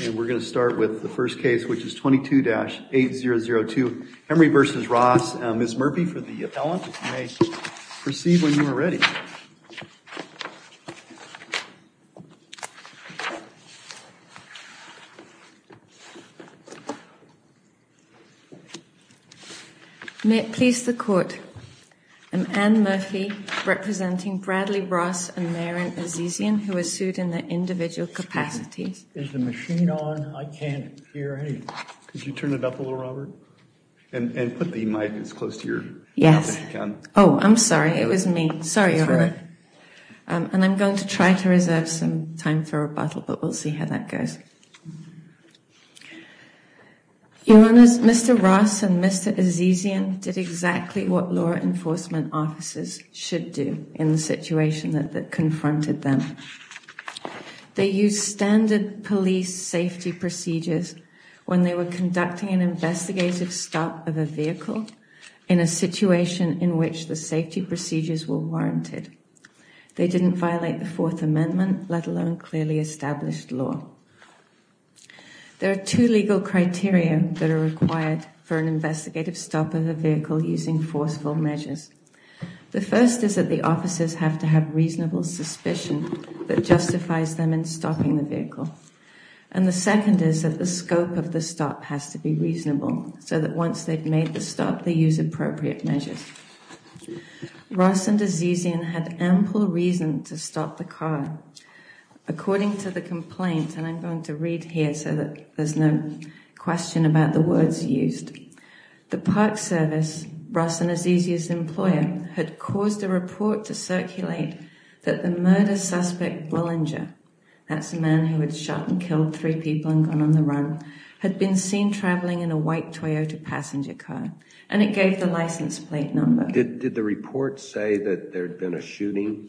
and we're going to start with the first case which is 22-8002 Henry v. Ross Ms. Murphy for the appellant. You may proceed when you are ready. May it please the court, I'm Anne Murphy representing Bradley Ross and Maren Murphy. I'm going to try to reserve some time for rebuttal but we'll see how that goes. Mr. Ross and Mr. Azizian did exactly what law enforcement officers should do in the standard police safety procedures when they were conducting an investigative stop of a vehicle in a situation in which the safety procedures were warranted. They didn't violate the Fourth Amendment, let alone clearly established law. There are two legal criteria that are required for an investigative stop of a vehicle using forceful measures. The first is that the officers have to have reasonable suspicion that justifies them in stopping the vehicle. And the second is that the scope of the stop has to be reasonable so that once they've made the stop they use appropriate measures. Ross and Azizian had ample reason to stop the car. According to the complaint, and I'm going to read here so that there's no question about the words used, the Park Service, Ross and Azizian's employer, had caused a report to circulate that the murder suspect Bullinger, that's the man who had shot and killed three people and gone on the run, had been seen traveling in a white Toyota passenger car and it gave the license plate number. Did the report say that there'd been a shooting?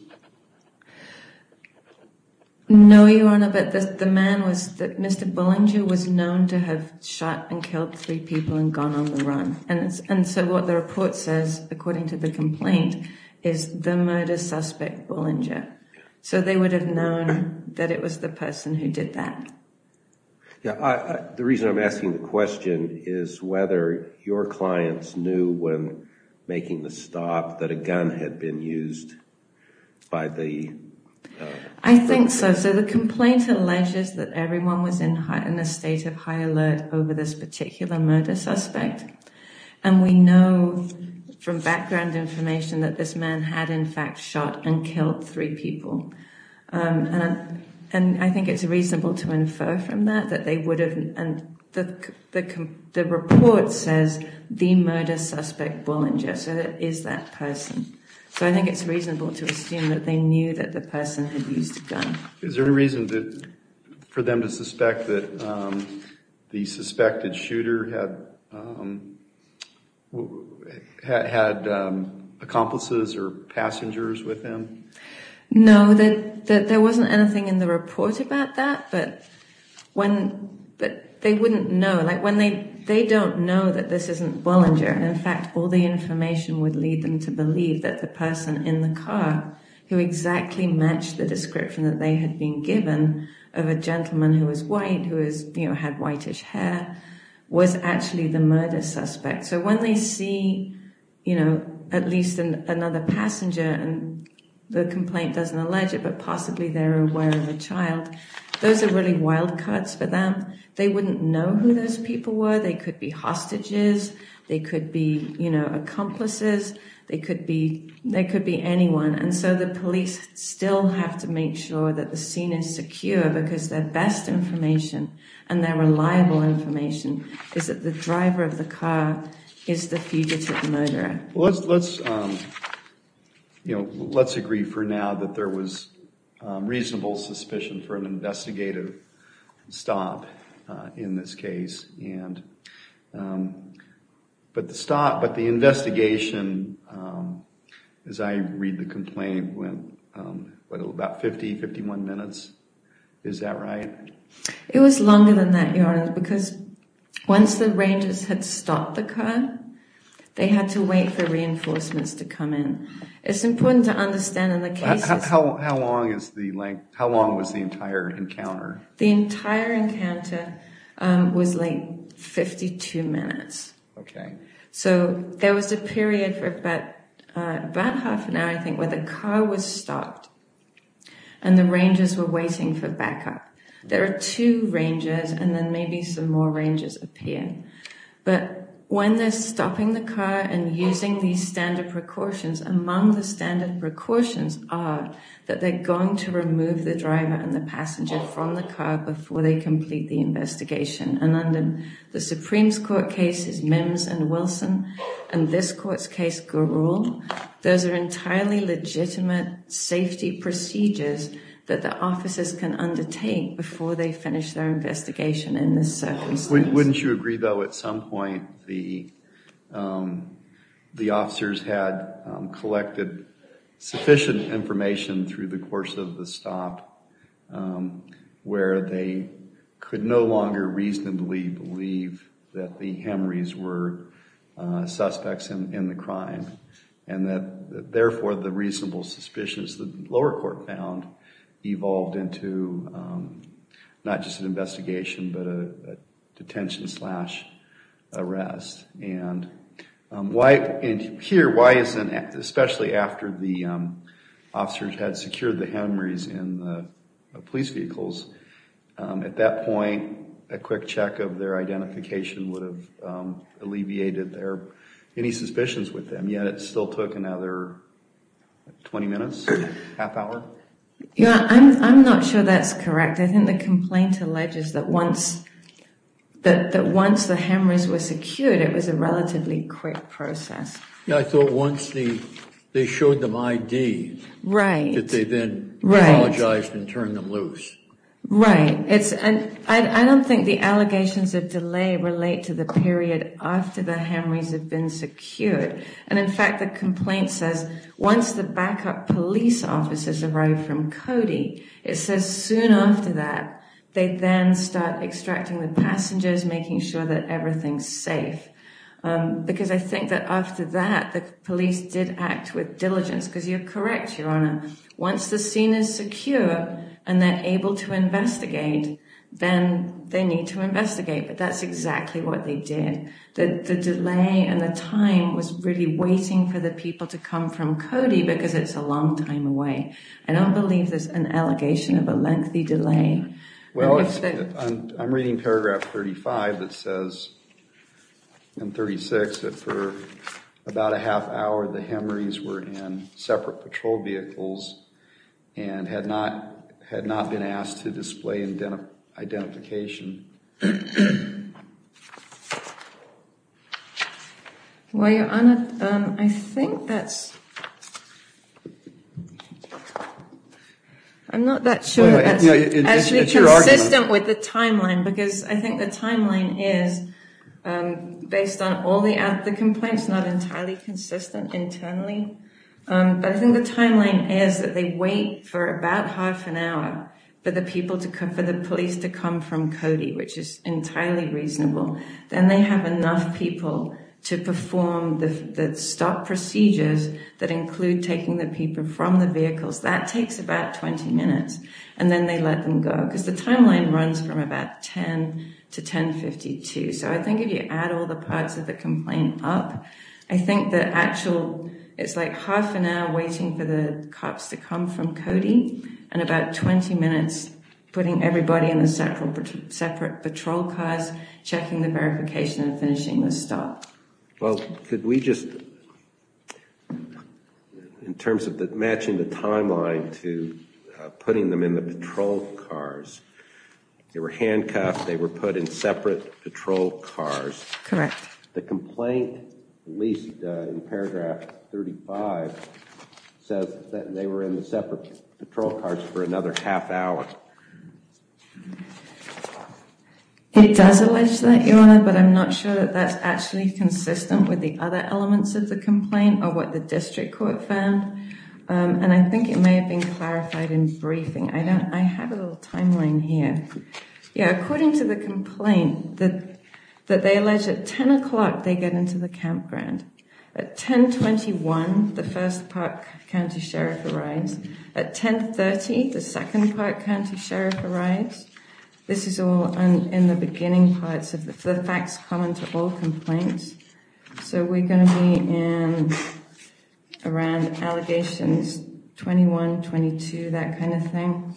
No, Your Honor, but the man was, Mr. Bullinger was known to have shot and killed three people and gone on the run. And so what the report says, according to the complaint, is the murder suspect Bullinger. So they would have known that it was the person who did that. The reason I'm asking the question is whether your clients knew when making the stop that a gun had been used by the... I think so. So the complaint alleges that everyone was in a state of high alert over this particular murder suspect. And we know from background information that this man had in fact shot and killed three people. And I think it's reasonable to infer from that that they would have, and the report says the murder suspect Bullinger, so it is that person. So I think it's reasonable to assume that they knew that the person had used a gun. Is there any reason for them to suspect that the suspected shooter had accomplices or passengers with him? No, there wasn't anything in the report about that, but they wouldn't know. Like when they don't know that this isn't Bullinger, and in fact all the information would lead them to believe that the person in the car who exactly matched the description that they had been given of a gentleman who was white, who had whitish hair, was actually the murder suspect. So when they see at least another passenger, and the complaint doesn't allege it, but possibly they're aware of a child, those are really wild cards for them. They wouldn't know who those people were. They could be hostages, they could be accomplices, they could be anyone. And so the police still have to make sure that the scene is secure, because their best information, and their reliable information, is that the driver of the car is the fugitive murderer. Let's, you know, let's agree for now that there was reasonable suspicion for an investigative stop in this case. But the stop, but the investigation, as I read the complaint, went about 50, 51 minutes. Is that right? It was longer than that, Your Honor, because once the rangers had stopped the car, they had to wait for reinforcements to come in. It's important to understand in the case... How long was the entire encounter? The entire encounter was like 52 minutes. Okay. So there was a period for about half an hour, I think, where the car was stopped, and the rangers were waiting for backup. There are two rangers, and then maybe some more rangers appear. But when they're stopping the car and using these standard precautions, among the standard precautions are that they're going to remove the driver and the passenger from the car before they complete the investigation. And under the Supreme Court cases, Mims and Wilson, and this court's case, Garul, those are entirely legitimate safety procedures that the officers can undertake before they finish their investigation in this circumstance. Wouldn't you agree, though, at some point the officers had collected sufficient information through the course of the stop where they could no longer reasonably believe that the Hemrys were suspects in the crime, and that therefore the reasonable suspicions the lower court found evolved into not just an investigation, but a detention slash arrest? And here, especially after the officers had secured the Hemrys in the police vehicles, at that point, a quick check of their identification would have alleviated any suspicions with them, yet it still took another 20 minutes, half hour? Yeah, I'm not sure that's correct. I think the complaint alleges that once the Hemrys were secured, it was a relatively quick process. Yeah, I thought once they showed them ID, that they then apologized and turned them loose. Right, and I don't think the allegations of delay relate to the period after the Hemrys have been secured. And in fact, the complaint says once the backup police officers arrive from Cody, it says soon after that, they then start extracting the passengers, making sure that everything's safe. Because I think that after that, the police did act with diligence, because you're correct, Your Honor. Once the scene is secure and they're able to investigate, then they need to investigate. But that's exactly what they did. The delay and the time was really waiting for the people to come from Cody because it's a long time away. I don't believe there's an allegation of a lengthy delay. Well, I'm reading paragraph 35 that says, and 36, that for about a half hour, the Hemrys were in separate patrol vehicles and had not been asked to display identification. Well, Your Honor, I think that's... I'm not that sure that's actually consistent with the timeline, because I think the timeline is based on all the complaints, not entirely consistent internally. But I think the timeline is that they wait for about half an hour for the police to come from Cody, which is entirely reasonable. Then they have enough people to perform the stop procedures that include taking the people from the vehicles. That takes about 20 minutes. And then they let them go, because the timeline runs from about 10 to 10.52. So I think if you add all the parts of the complaint up, I think the actual, it's like half an hour waiting for the cops to come from Cody, and about 20 minutes putting everybody in the separate patrol cars, checking the verification and finishing the stop. Well, could we just... Matching the timeline to putting them in the patrol cars, they were handcuffed, they were put in separate patrol cars. Correct. The complaint, at least in paragraph 35, says that they were in the separate patrol cars for another half hour. It does allege that, Your Honor, but I'm not sure that that's actually consistent with the other elements of the complaint or what the district court found. And I think it may have been clarified in briefing. I have a little timeline here. Yeah, according to the complaint, that they allege at 10 o'clock they get into the campground. At 10.21, the first park county sheriff arrives. At 10.30, the second park county sheriff arrives. This is all in the beginning parts of the facts common to all complaints. So, we're going to be in around allegations 21, 22, that kind of thing.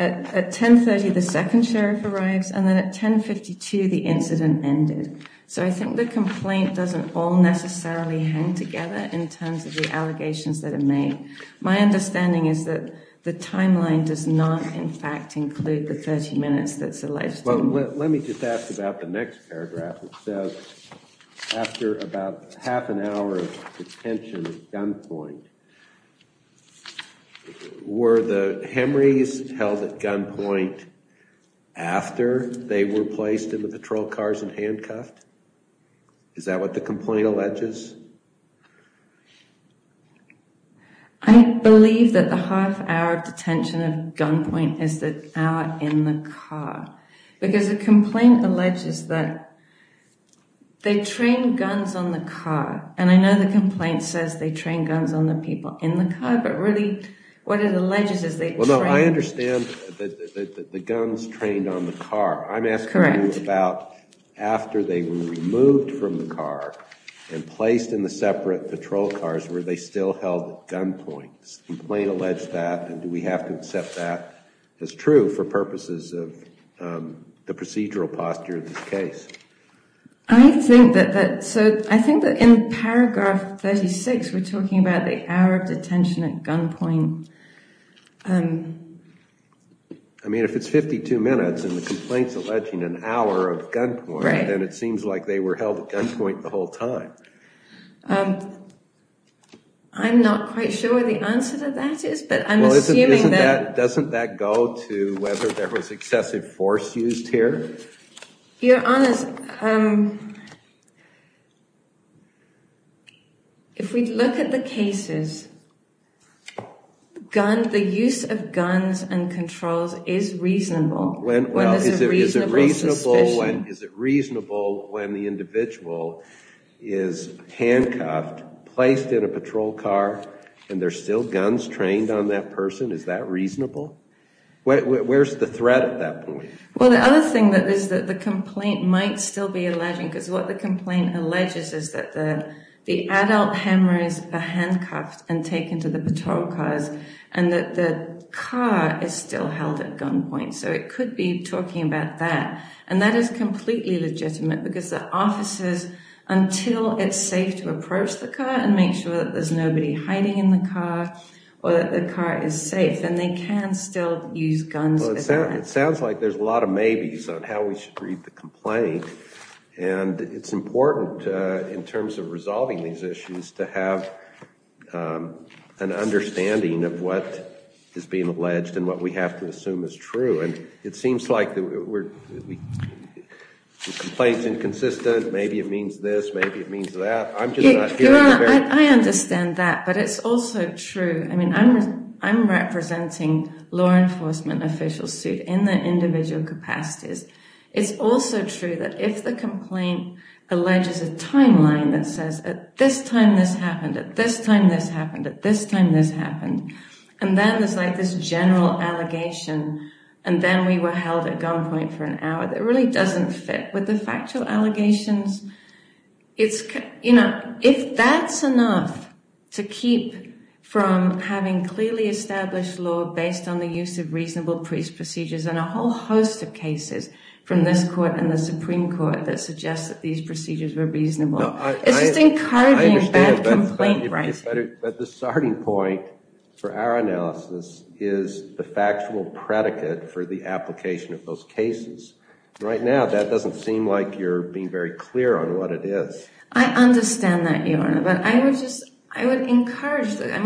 At 10.30, the second sheriff arrives, and then at 10.52, the incident ended. So, I think the complaint doesn't all necessarily hang together in terms of the allegations that are made. My understanding is that the timeline does not, in fact, include the 30 minutes that's alleged. Let me just ask about the next paragraph. It says after about half an hour of detention at gunpoint, were the hemorrhies held at gunpoint after they were placed in the patrol cars and handcuffed? Is that what the complaint alleges? I believe that the half hour of detention at gunpoint is the hour in the car, because the complaint alleges that they trained guns on the car, and I know the complaint says they train guns on the people in the car, but really, what it alleges is they trained... Well, no, I understand that the guns trained on the car. I'm asking about after they were removed from the car and placed in the separate patrol cars, were they still held at gunpoint? The complaint alleged that, and do we have to accept that as true for purposes of the procedural posture of this case? I think that in paragraph 36, we're talking about the hour of detention at gunpoint. I mean, if it's 52 minutes and the complaint's alleging an hour of gunpoint, then it seems like they were held at gunpoint the whole time. I'm not quite sure what the answer to that is, but I'm assuming that... Well, doesn't that go to whether there was excessive force used here? You're honest. If we look at the cases, the use of guns and controls is reasonable when there's a reasonable and is it reasonable when the individual is handcuffed, placed in a patrol car, and there's still guns trained on that person, is that reasonable? Where's the threat at that point? Well, the other thing is that the complaint might still be alleging, because what the complaint alleges is that the adult hemorrhoids are handcuffed and taken to the patrol cars, and that the car is still held at gunpoint. So, it could be talking about that, and that is completely legitimate, because the officers, until it's safe to approach the car and make sure that there's nobody hiding in the car or that the car is safe, then they can still use guns. It sounds like there's a lot of maybes on how we should read the complaint, and it's important, in terms of resolving these issues, to have an understanding of what is being alleged and what we have to assume is true, and it seems like the complaint's inconsistent. Maybe it means this, maybe it means that. I'm just not hearing... I understand that, but it's also true. I mean, I'm representing a law enforcement official suit in their individual capacities. It's also true that if the complaint alleges a timeline that says, at this time this happened, at this time this happened, at this time this happened, and then there's like this general allegation, and then we were held at gunpoint for an hour, that really doesn't fit with the factual allegations. If that's enough to keep from having clearly established law based on the use of reasonable procedures and a whole host of cases from this court and the Supreme Court that suggest that these procedures were reasonable, it's just encouraging bad complaint writing. But the starting point for our analysis is the factual predicate for the application of those cases. Right now, that doesn't seem like you're being very clear on what it is. I understand that, Your Honor, but I would just, I mean,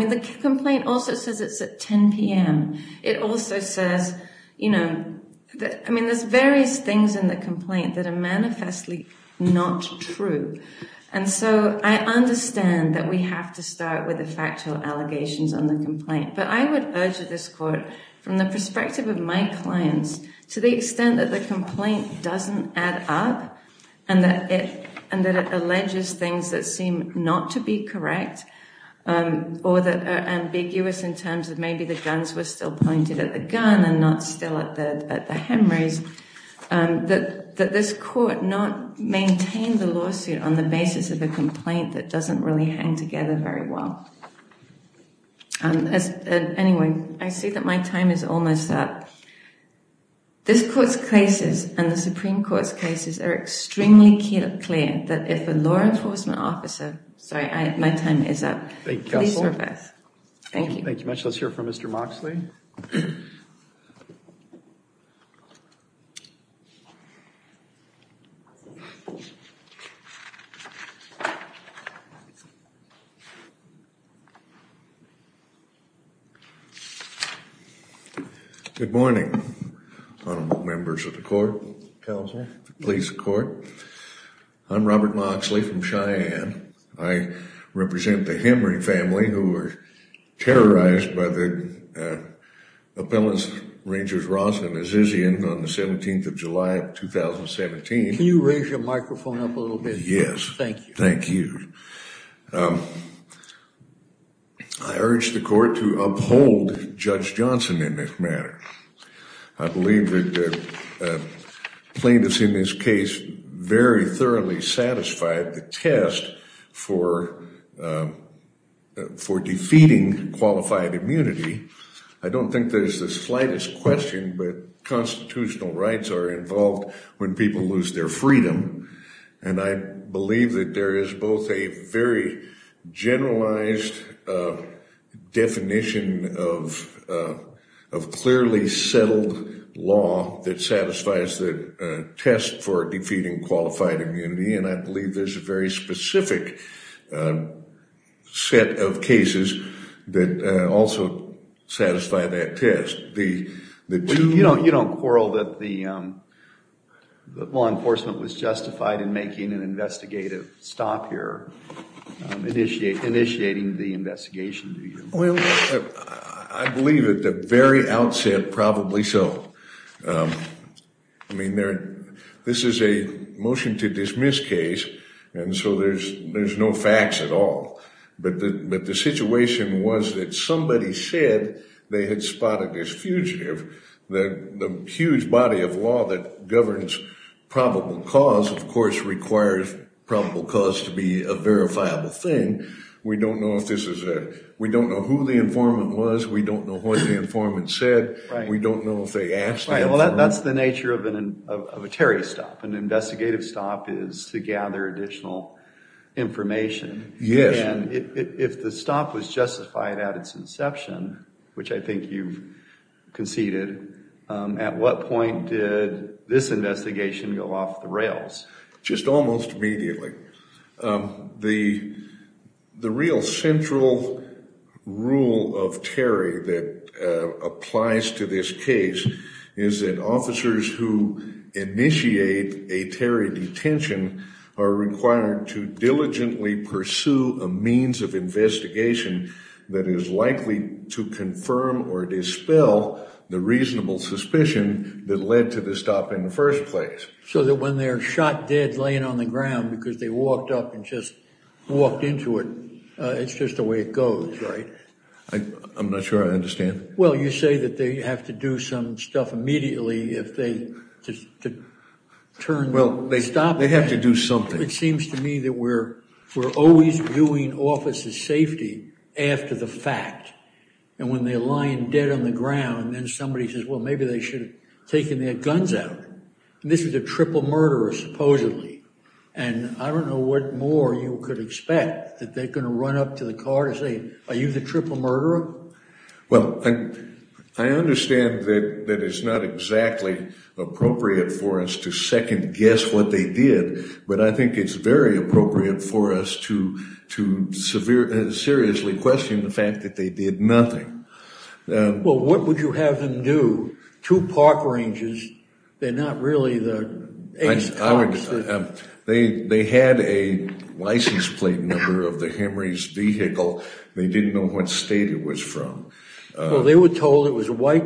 the complaint also says it's at 10 p.m. It also says, you know, I mean, there's various things in the complaint that are manifestly not true. And so I understand that we have to start with the factual allegations on the complaint, but I would urge this court, from the perspective of my clients, to the extent that the complaint doesn't add up and that it alleges things that seem not to be correct or that are ambiguous in terms of maybe the guns were still pointed at the gun and not still at the hemorrhage, that this court not maintain the lawsuit on the basis of a complaint that doesn't really hang together very well. Anyway, I see that my time is almost up. This court's cases and the Supreme Court's cases are extremely clear that if a law enforcement officer, sorry, my time is up. Please serve us. Thank you. Thank you much. Let's hear from Mr. Moxley. Good morning, honorable members of the court, counsel, police, court. I'm Robert Moxley from Cheyenne. I represent the Henry family who were terrorized by the appellants, Rangers Ross and Azizian on the 17th of July of 2017. Can you raise your microphone up a little bit? Yes. Thank you. Thank you. I urge the court to uphold Judge Johnson in this matter. I believe that plaintiffs in this case very thoroughly satisfied the test for for defeating qualified immunity. I don't think there's the slightest question, but constitutional rights are involved when people lose their freedom. And I believe that there is both a very generalized definition of clearly settled law that satisfies the test for defeating qualified immunity. And I believe there's a very specific set of cases that also satisfy that test. You don't quarrel that the the law enforcement was justified in making an investigative stop here, initiating the investigation, do you? Well, I believe at the very outset, probably so. I mean, this is a motion to dismiss case, and so there's no facts at all. But the situation was that somebody said they had spotted this fugitive. The huge body of law that governs probable cause, of course, requires probable cause to be a verifiable thing. We don't know if this is a, we don't know who the informant was. We don't know what the informant said. We don't know if they asked. Well, that's the nature of a terrorist stop. An investigative stop is to gather additional information. Yes. And if the stop was justified at its inception, which I think you've conceded, at what point did this investigation go off the rails? Just almost immediately. The real central rule of Terry that applies to this case is that officers who initiate a Terry detention are required to diligently pursue a means of investigation that is likely to confirm or dispel the reasonable suspicion that led to the stop in the first place. So that when they're shot dead laying on the ground because they walked up and just walked into it, it's just the way it goes, right? I'm not sure I understand. Well, you say that they have to do some stuff immediately if they turn. Well, they stop. They have to do something. It seems to me that we're always doing officers safety after the fact. And when they're lying dead on the ground, then somebody says, well, maybe they should have taken their guns out. And this is a triple murderer, supposedly. And I don't know what more you could expect that they're going to run up to the car to say, are you the triple murderer? Well, I understand that it's not exactly appropriate for us to second guess what they did, but I think it's very appropriate for us to seriously question the fact that they did nothing. Well, what would you have them do? Two park rangers. They're not really the... They had a license plate number of the Henry's vehicle. They didn't know what state it was from. Well, they were told it was a white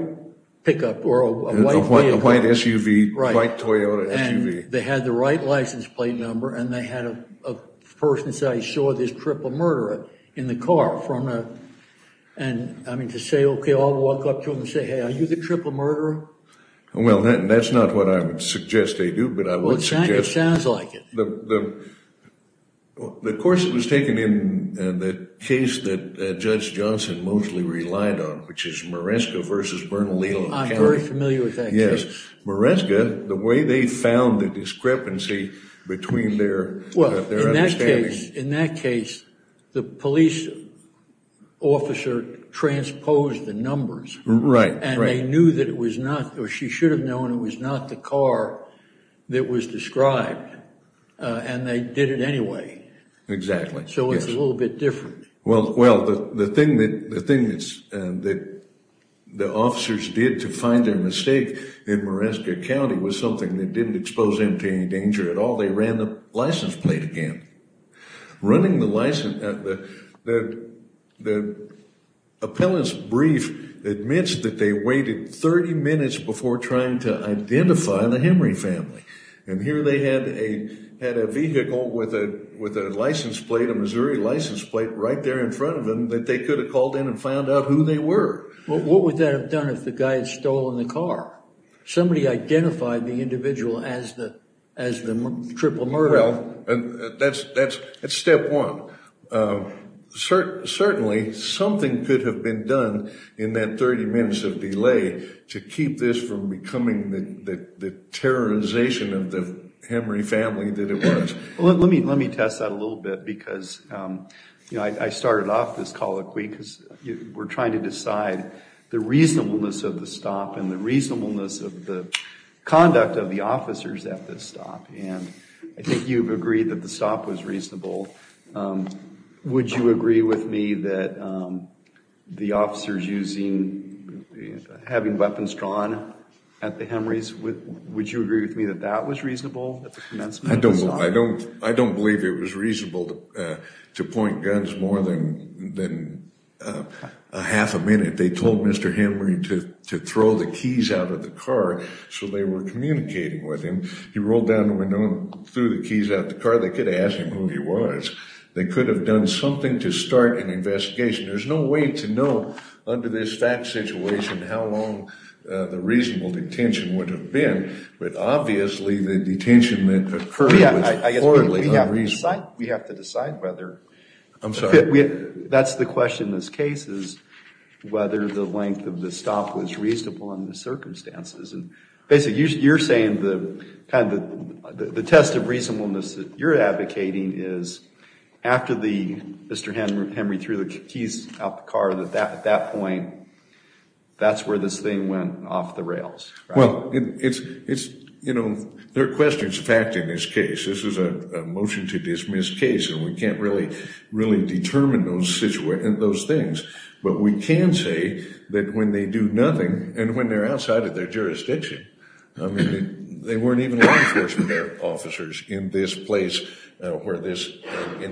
pickup or a white vehicle. A white SUV, white Toyota SUV. They had the right license plate number and they had a person say, I saw this triple murderer in the car. And I mean, to say, okay, I'll walk up to him and say, hey, are you the triple murderer? Well, that's not what I would suggest they do, but I would suggest... It sounds like it. The course that was taken in the case that Judge Johnson mostly relied on, which is Maresca versus Bernalillo. I'm very familiar with that case. Yes. Maresca, the way they found the discrepancy between their... Well, in that case, the police officer transposed the numbers. Right. And they knew that it was not, or she should have known, it was not the car that was described. And they did it anyway. Exactly. So it's a little bit different. Well, the thing that the officers did to find their mistake in Maresca County was something that didn't expose them to any danger at all. They ran the license plate again. Running the license... The appellant's brief admits that they waited 30 minutes before trying to identify the Henry family. And here they had a vehicle with a license plate, a Missouri license plate, right there in front of them that they could have called in and found out who they were. What would that have done if the guy had stolen the car? Somebody identified the individual as the triple murderer. That's step one. Certainly, something could have been done in that 30 minutes of delay to keep this from becoming the terrorization of the Henry family that it was. Let me test that a little bit because I started off this colloquy because we're trying to decide the reasonableness of the stop and the reasonableness of the conduct of the officers at this stop. And I think you've agreed that the stop was reasonable. Would you agree with me that the officers having weapons drawn at the Henry's, would you agree with me that that was reasonable at the commencement? I don't believe it was reasonable to point guns more than a half a minute. They told Mr. Henry to throw the keys out of the car so they were communicating with him. He rolled down the window and threw the keys out the car. They could have asked him who he was. They could have done something to start an investigation. There's no way to know under this fact situation how long the reasonable detention would have been. But obviously, the detention that occurred was poorly unreasonable. We have to decide whether. I'm sorry. That's the question in this case is whether the length of the stop was reasonable in the circumstances. Basically, you're saying the test of reasonableness that you're advocating is after Mr. Henry threw the keys out the car, that at that point, that's where this thing went off the rails. Well, there are questions of fact in this case. This is a motion to dismiss case and we can't really determine those things. But we can say that when they do nothing and when they're outside of their jurisdiction. I mean, they weren't even law enforcement officers in this place. Were they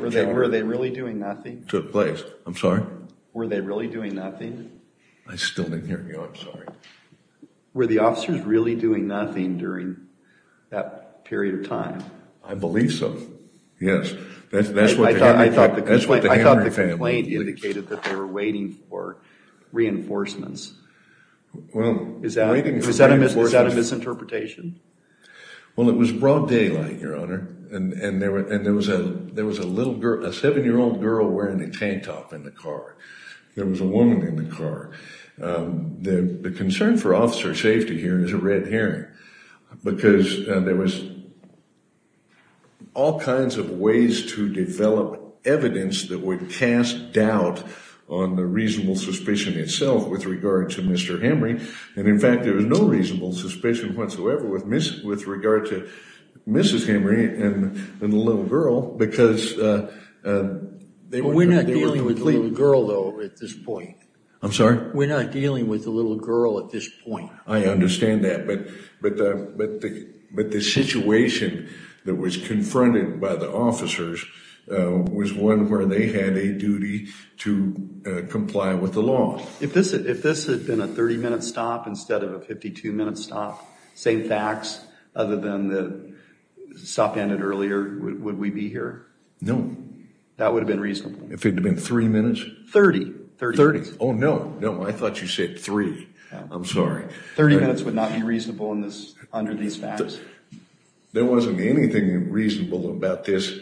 really doing nothing? Took place. I'm sorry. Were they really doing nothing? I still didn't hear you. I'm sorry. Were the officers really doing nothing during that period of time? I believe so. Yes. That's what the Henry family believes. I thought the complaint was out of misinterpretation. Well, it was broad daylight, Your Honor. And there was a little girl, a seven-year-old girl wearing a tank top in the car. There was a woman in the car. The concern for officer safety here is a red herring because there was all kinds of ways to develop evidence that would cast doubt on the reasonable suspicion itself with regard to Mr. Henry. And in fact, there was no reasonable suspicion whatsoever with regard to Mrs. Henry and the little girl because... We're not dealing with the little girl, though, at this point. I'm sorry? We're not dealing with the little girl at this point. I understand that. But the situation that was confronted by the officers was one where they had a duty to comply with the law. If this had been a 30-minute stop instead of a 52-minute stop, same facts, other than the stop ended earlier, would we be here? No. That would have been reasonable. If it had been three minutes? 30. 30. Oh, no. No, I thought you said three. I'm sorry. 30 minutes would not be reasonable under these facts. There wasn't anything reasonable about this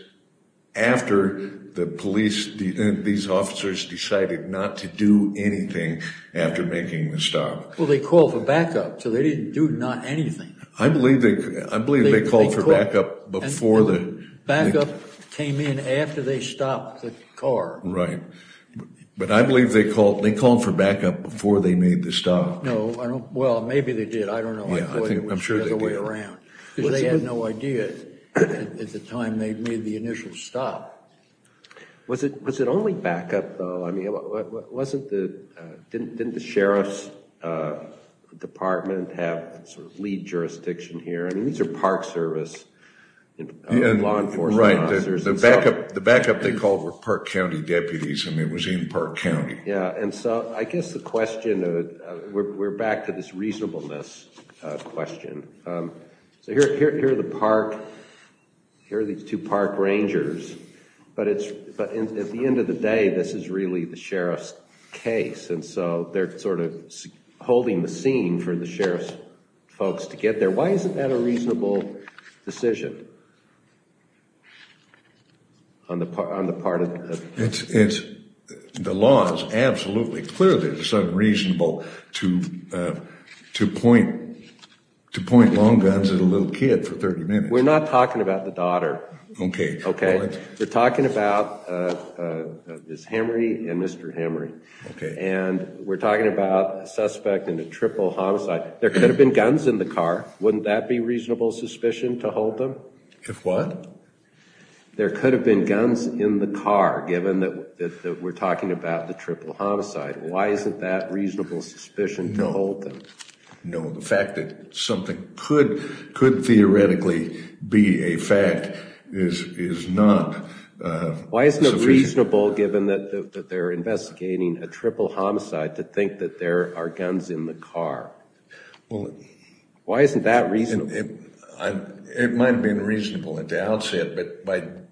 after the police, these officers decided not to do anything after making the stop. Well, they called for backup, so they didn't do not anything. I believe they called for backup before the... Backup came in after they stopped the car. Right. But I believe they called for backup before they made the stop. No, I don't. Well, maybe they did. I don't know. I'm sure they did. Because they had no idea at the time they made the initial stop. Was it only backup, though? I mean, wasn't the... Didn't the sheriff's department have sort of lead jurisdiction here? I mean, these are Park Service law enforcement officers. Right. The backup they called were Park County deputies. I mean, it was in Park County. Yeah. And so I guess the question... We're back to this reasonableness question. So here are the park... Here are these two park rangers, but at the end of the day, this is really the sheriff's case. And so they're sort of holding the scene for the sheriff's folks to get there. Why isn't that a reasonable decision on the part of... It's... The law is absolutely clear that it's unreasonable to point long guns at a little kid for 30 minutes. We're not talking about the daughter. Okay. Okay. We're talking about Ms. Henry and Mr. Henry. Okay. And we're talking about a suspect in a triple homicide. There could have been guns in the car. Wouldn't that be reasonable suspicion to hold them? If what? There could have been guns in the car, given that we're talking about the No. No. The fact that something could theoretically be a fact is not... Why isn't it reasonable, given that they're investigating a triple homicide, to think that there are guns in the car? Why isn't that reasonable? It might have been reasonable at the outset, but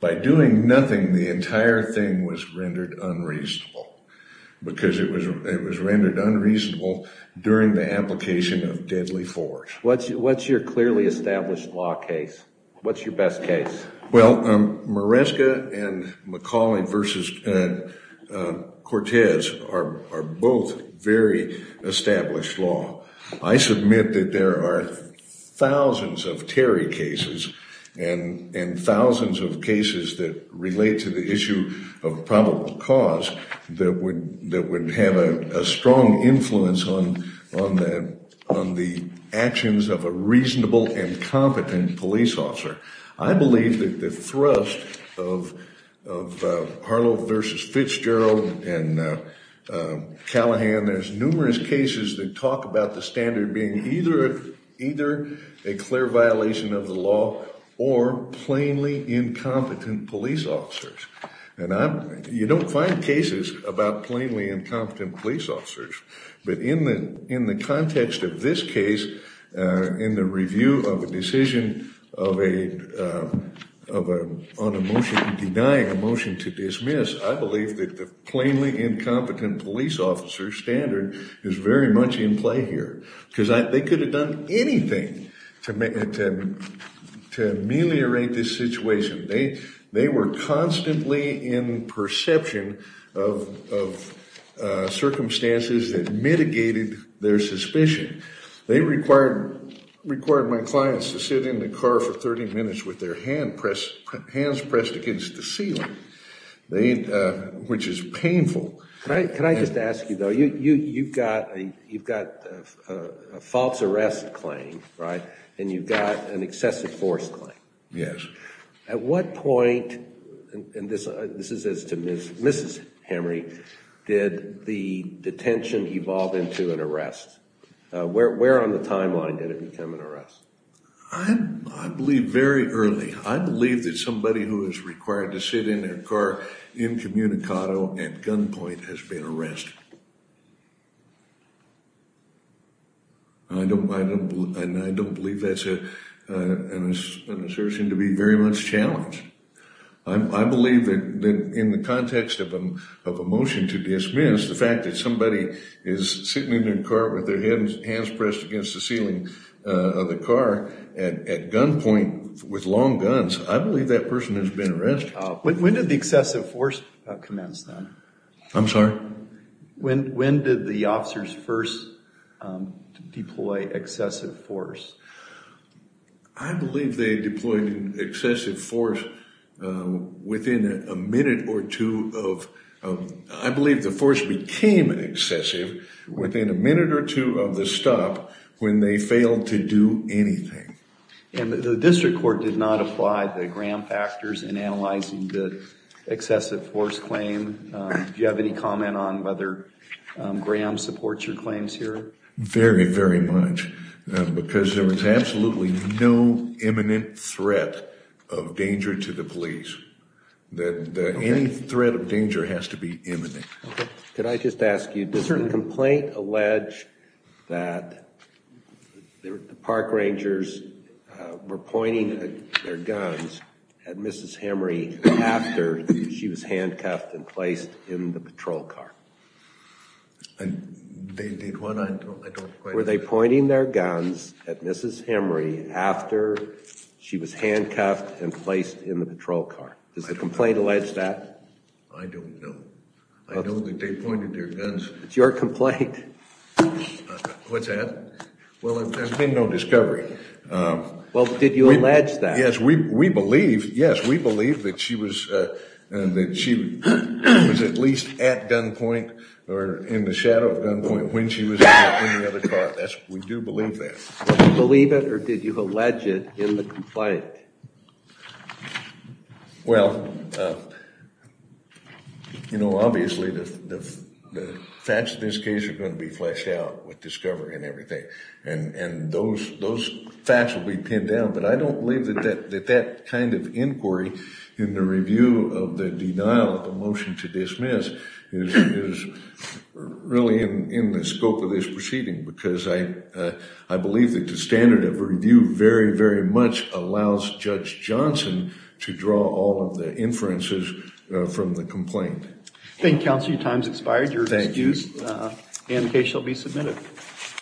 by doing nothing, the entire thing was rendered unreasonable during the application of deadly force. What's your clearly established law case? What's your best case? Well, Maresca and McCauley v. Cortez are both very established law. I submit that there are thousands of Terry cases and thousands of cases that relate to the issue of probable cause that would have a strong influence on the actions of a reasonable and competent police officer. I believe that the thrust of Harlow v. Fitzgerald and Callahan, there's numerous cases that talk about the standard being either a clear violation of the law or plainly incompetent police officers. You don't find cases about plainly incompetent police officers, but in the context of this case, in the review of a decision on a motion denying a motion to dismiss, I believe that the plainly incompetent police officer standard is very much in play here because they could have done anything to ameliorate this situation. They were constantly in perception of circumstances that mitigated their suspicion. They required my clients to sit in the car for 30 minutes with their hands pressed against the ceiling, which is painful. Can I just ask you though, you've got a false arrest claim, right? And you've got an excessive force claim. Yes. At what point, and this is as to Mrs. Henry, did the detention evolve into an arrest? Where on the timeline did it become an arrest? I believe very early. I believe that who is required to sit in their car incommunicado at gunpoint has been arrested. I don't believe that's an assertion to be very much challenged. I believe that in the context of a motion to dismiss, the fact that somebody is sitting in their car with their hands pressed against the ceiling of the car at gunpoint with long guns, I believe that person has been arrested. When did the excessive force commence then? I'm sorry? When did the officers first deploy excessive force? I believe they deployed excessive force within a minute or two of, I believe the force became excessive within a minute or two of the stop when they failed to do anything. And the district court did not apply the Graham factors in analyzing the excessive force claim. Do you have any comment on whether Graham supports your claims here? Very, very much. Because there was absolutely no imminent threat of danger to the police. That any threat of danger has to be imminent. Okay. Could I just ask you, does the complaint allege that the park rangers were pointing their guns at Mrs. Henry after she was handcuffed and placed in the patrol car? They did what? Were they pointing their guns at Mrs. Henry after she was handcuffed and placed in the patrol car? Does the complaint allege that? I don't know. I know that they pointed their guns. It's your complaint. What's that? Well, there's been no discovery. Well, did you allege that? Yes, we believe, yes, we believe that she was, that she was at least at gunpoint or in the shadow of gunpoint when she was in the other car. That's, we do believe that. Do you believe it or did you allege it in the complaint? Well, you know, obviously the facts of this case are going to be fleshed out with discovery and everything. And those facts will be pinned down. But I don't believe that that kind of inquiry in the review of the denial of the motion to dismiss is really in the scope of this proceeding because I believe that the standard of review very, very much allows Judge Johnson to draw all of the inferences from the complaint. Thank you, Counselor. Your time's expired. Your excused and the case shall be submitted.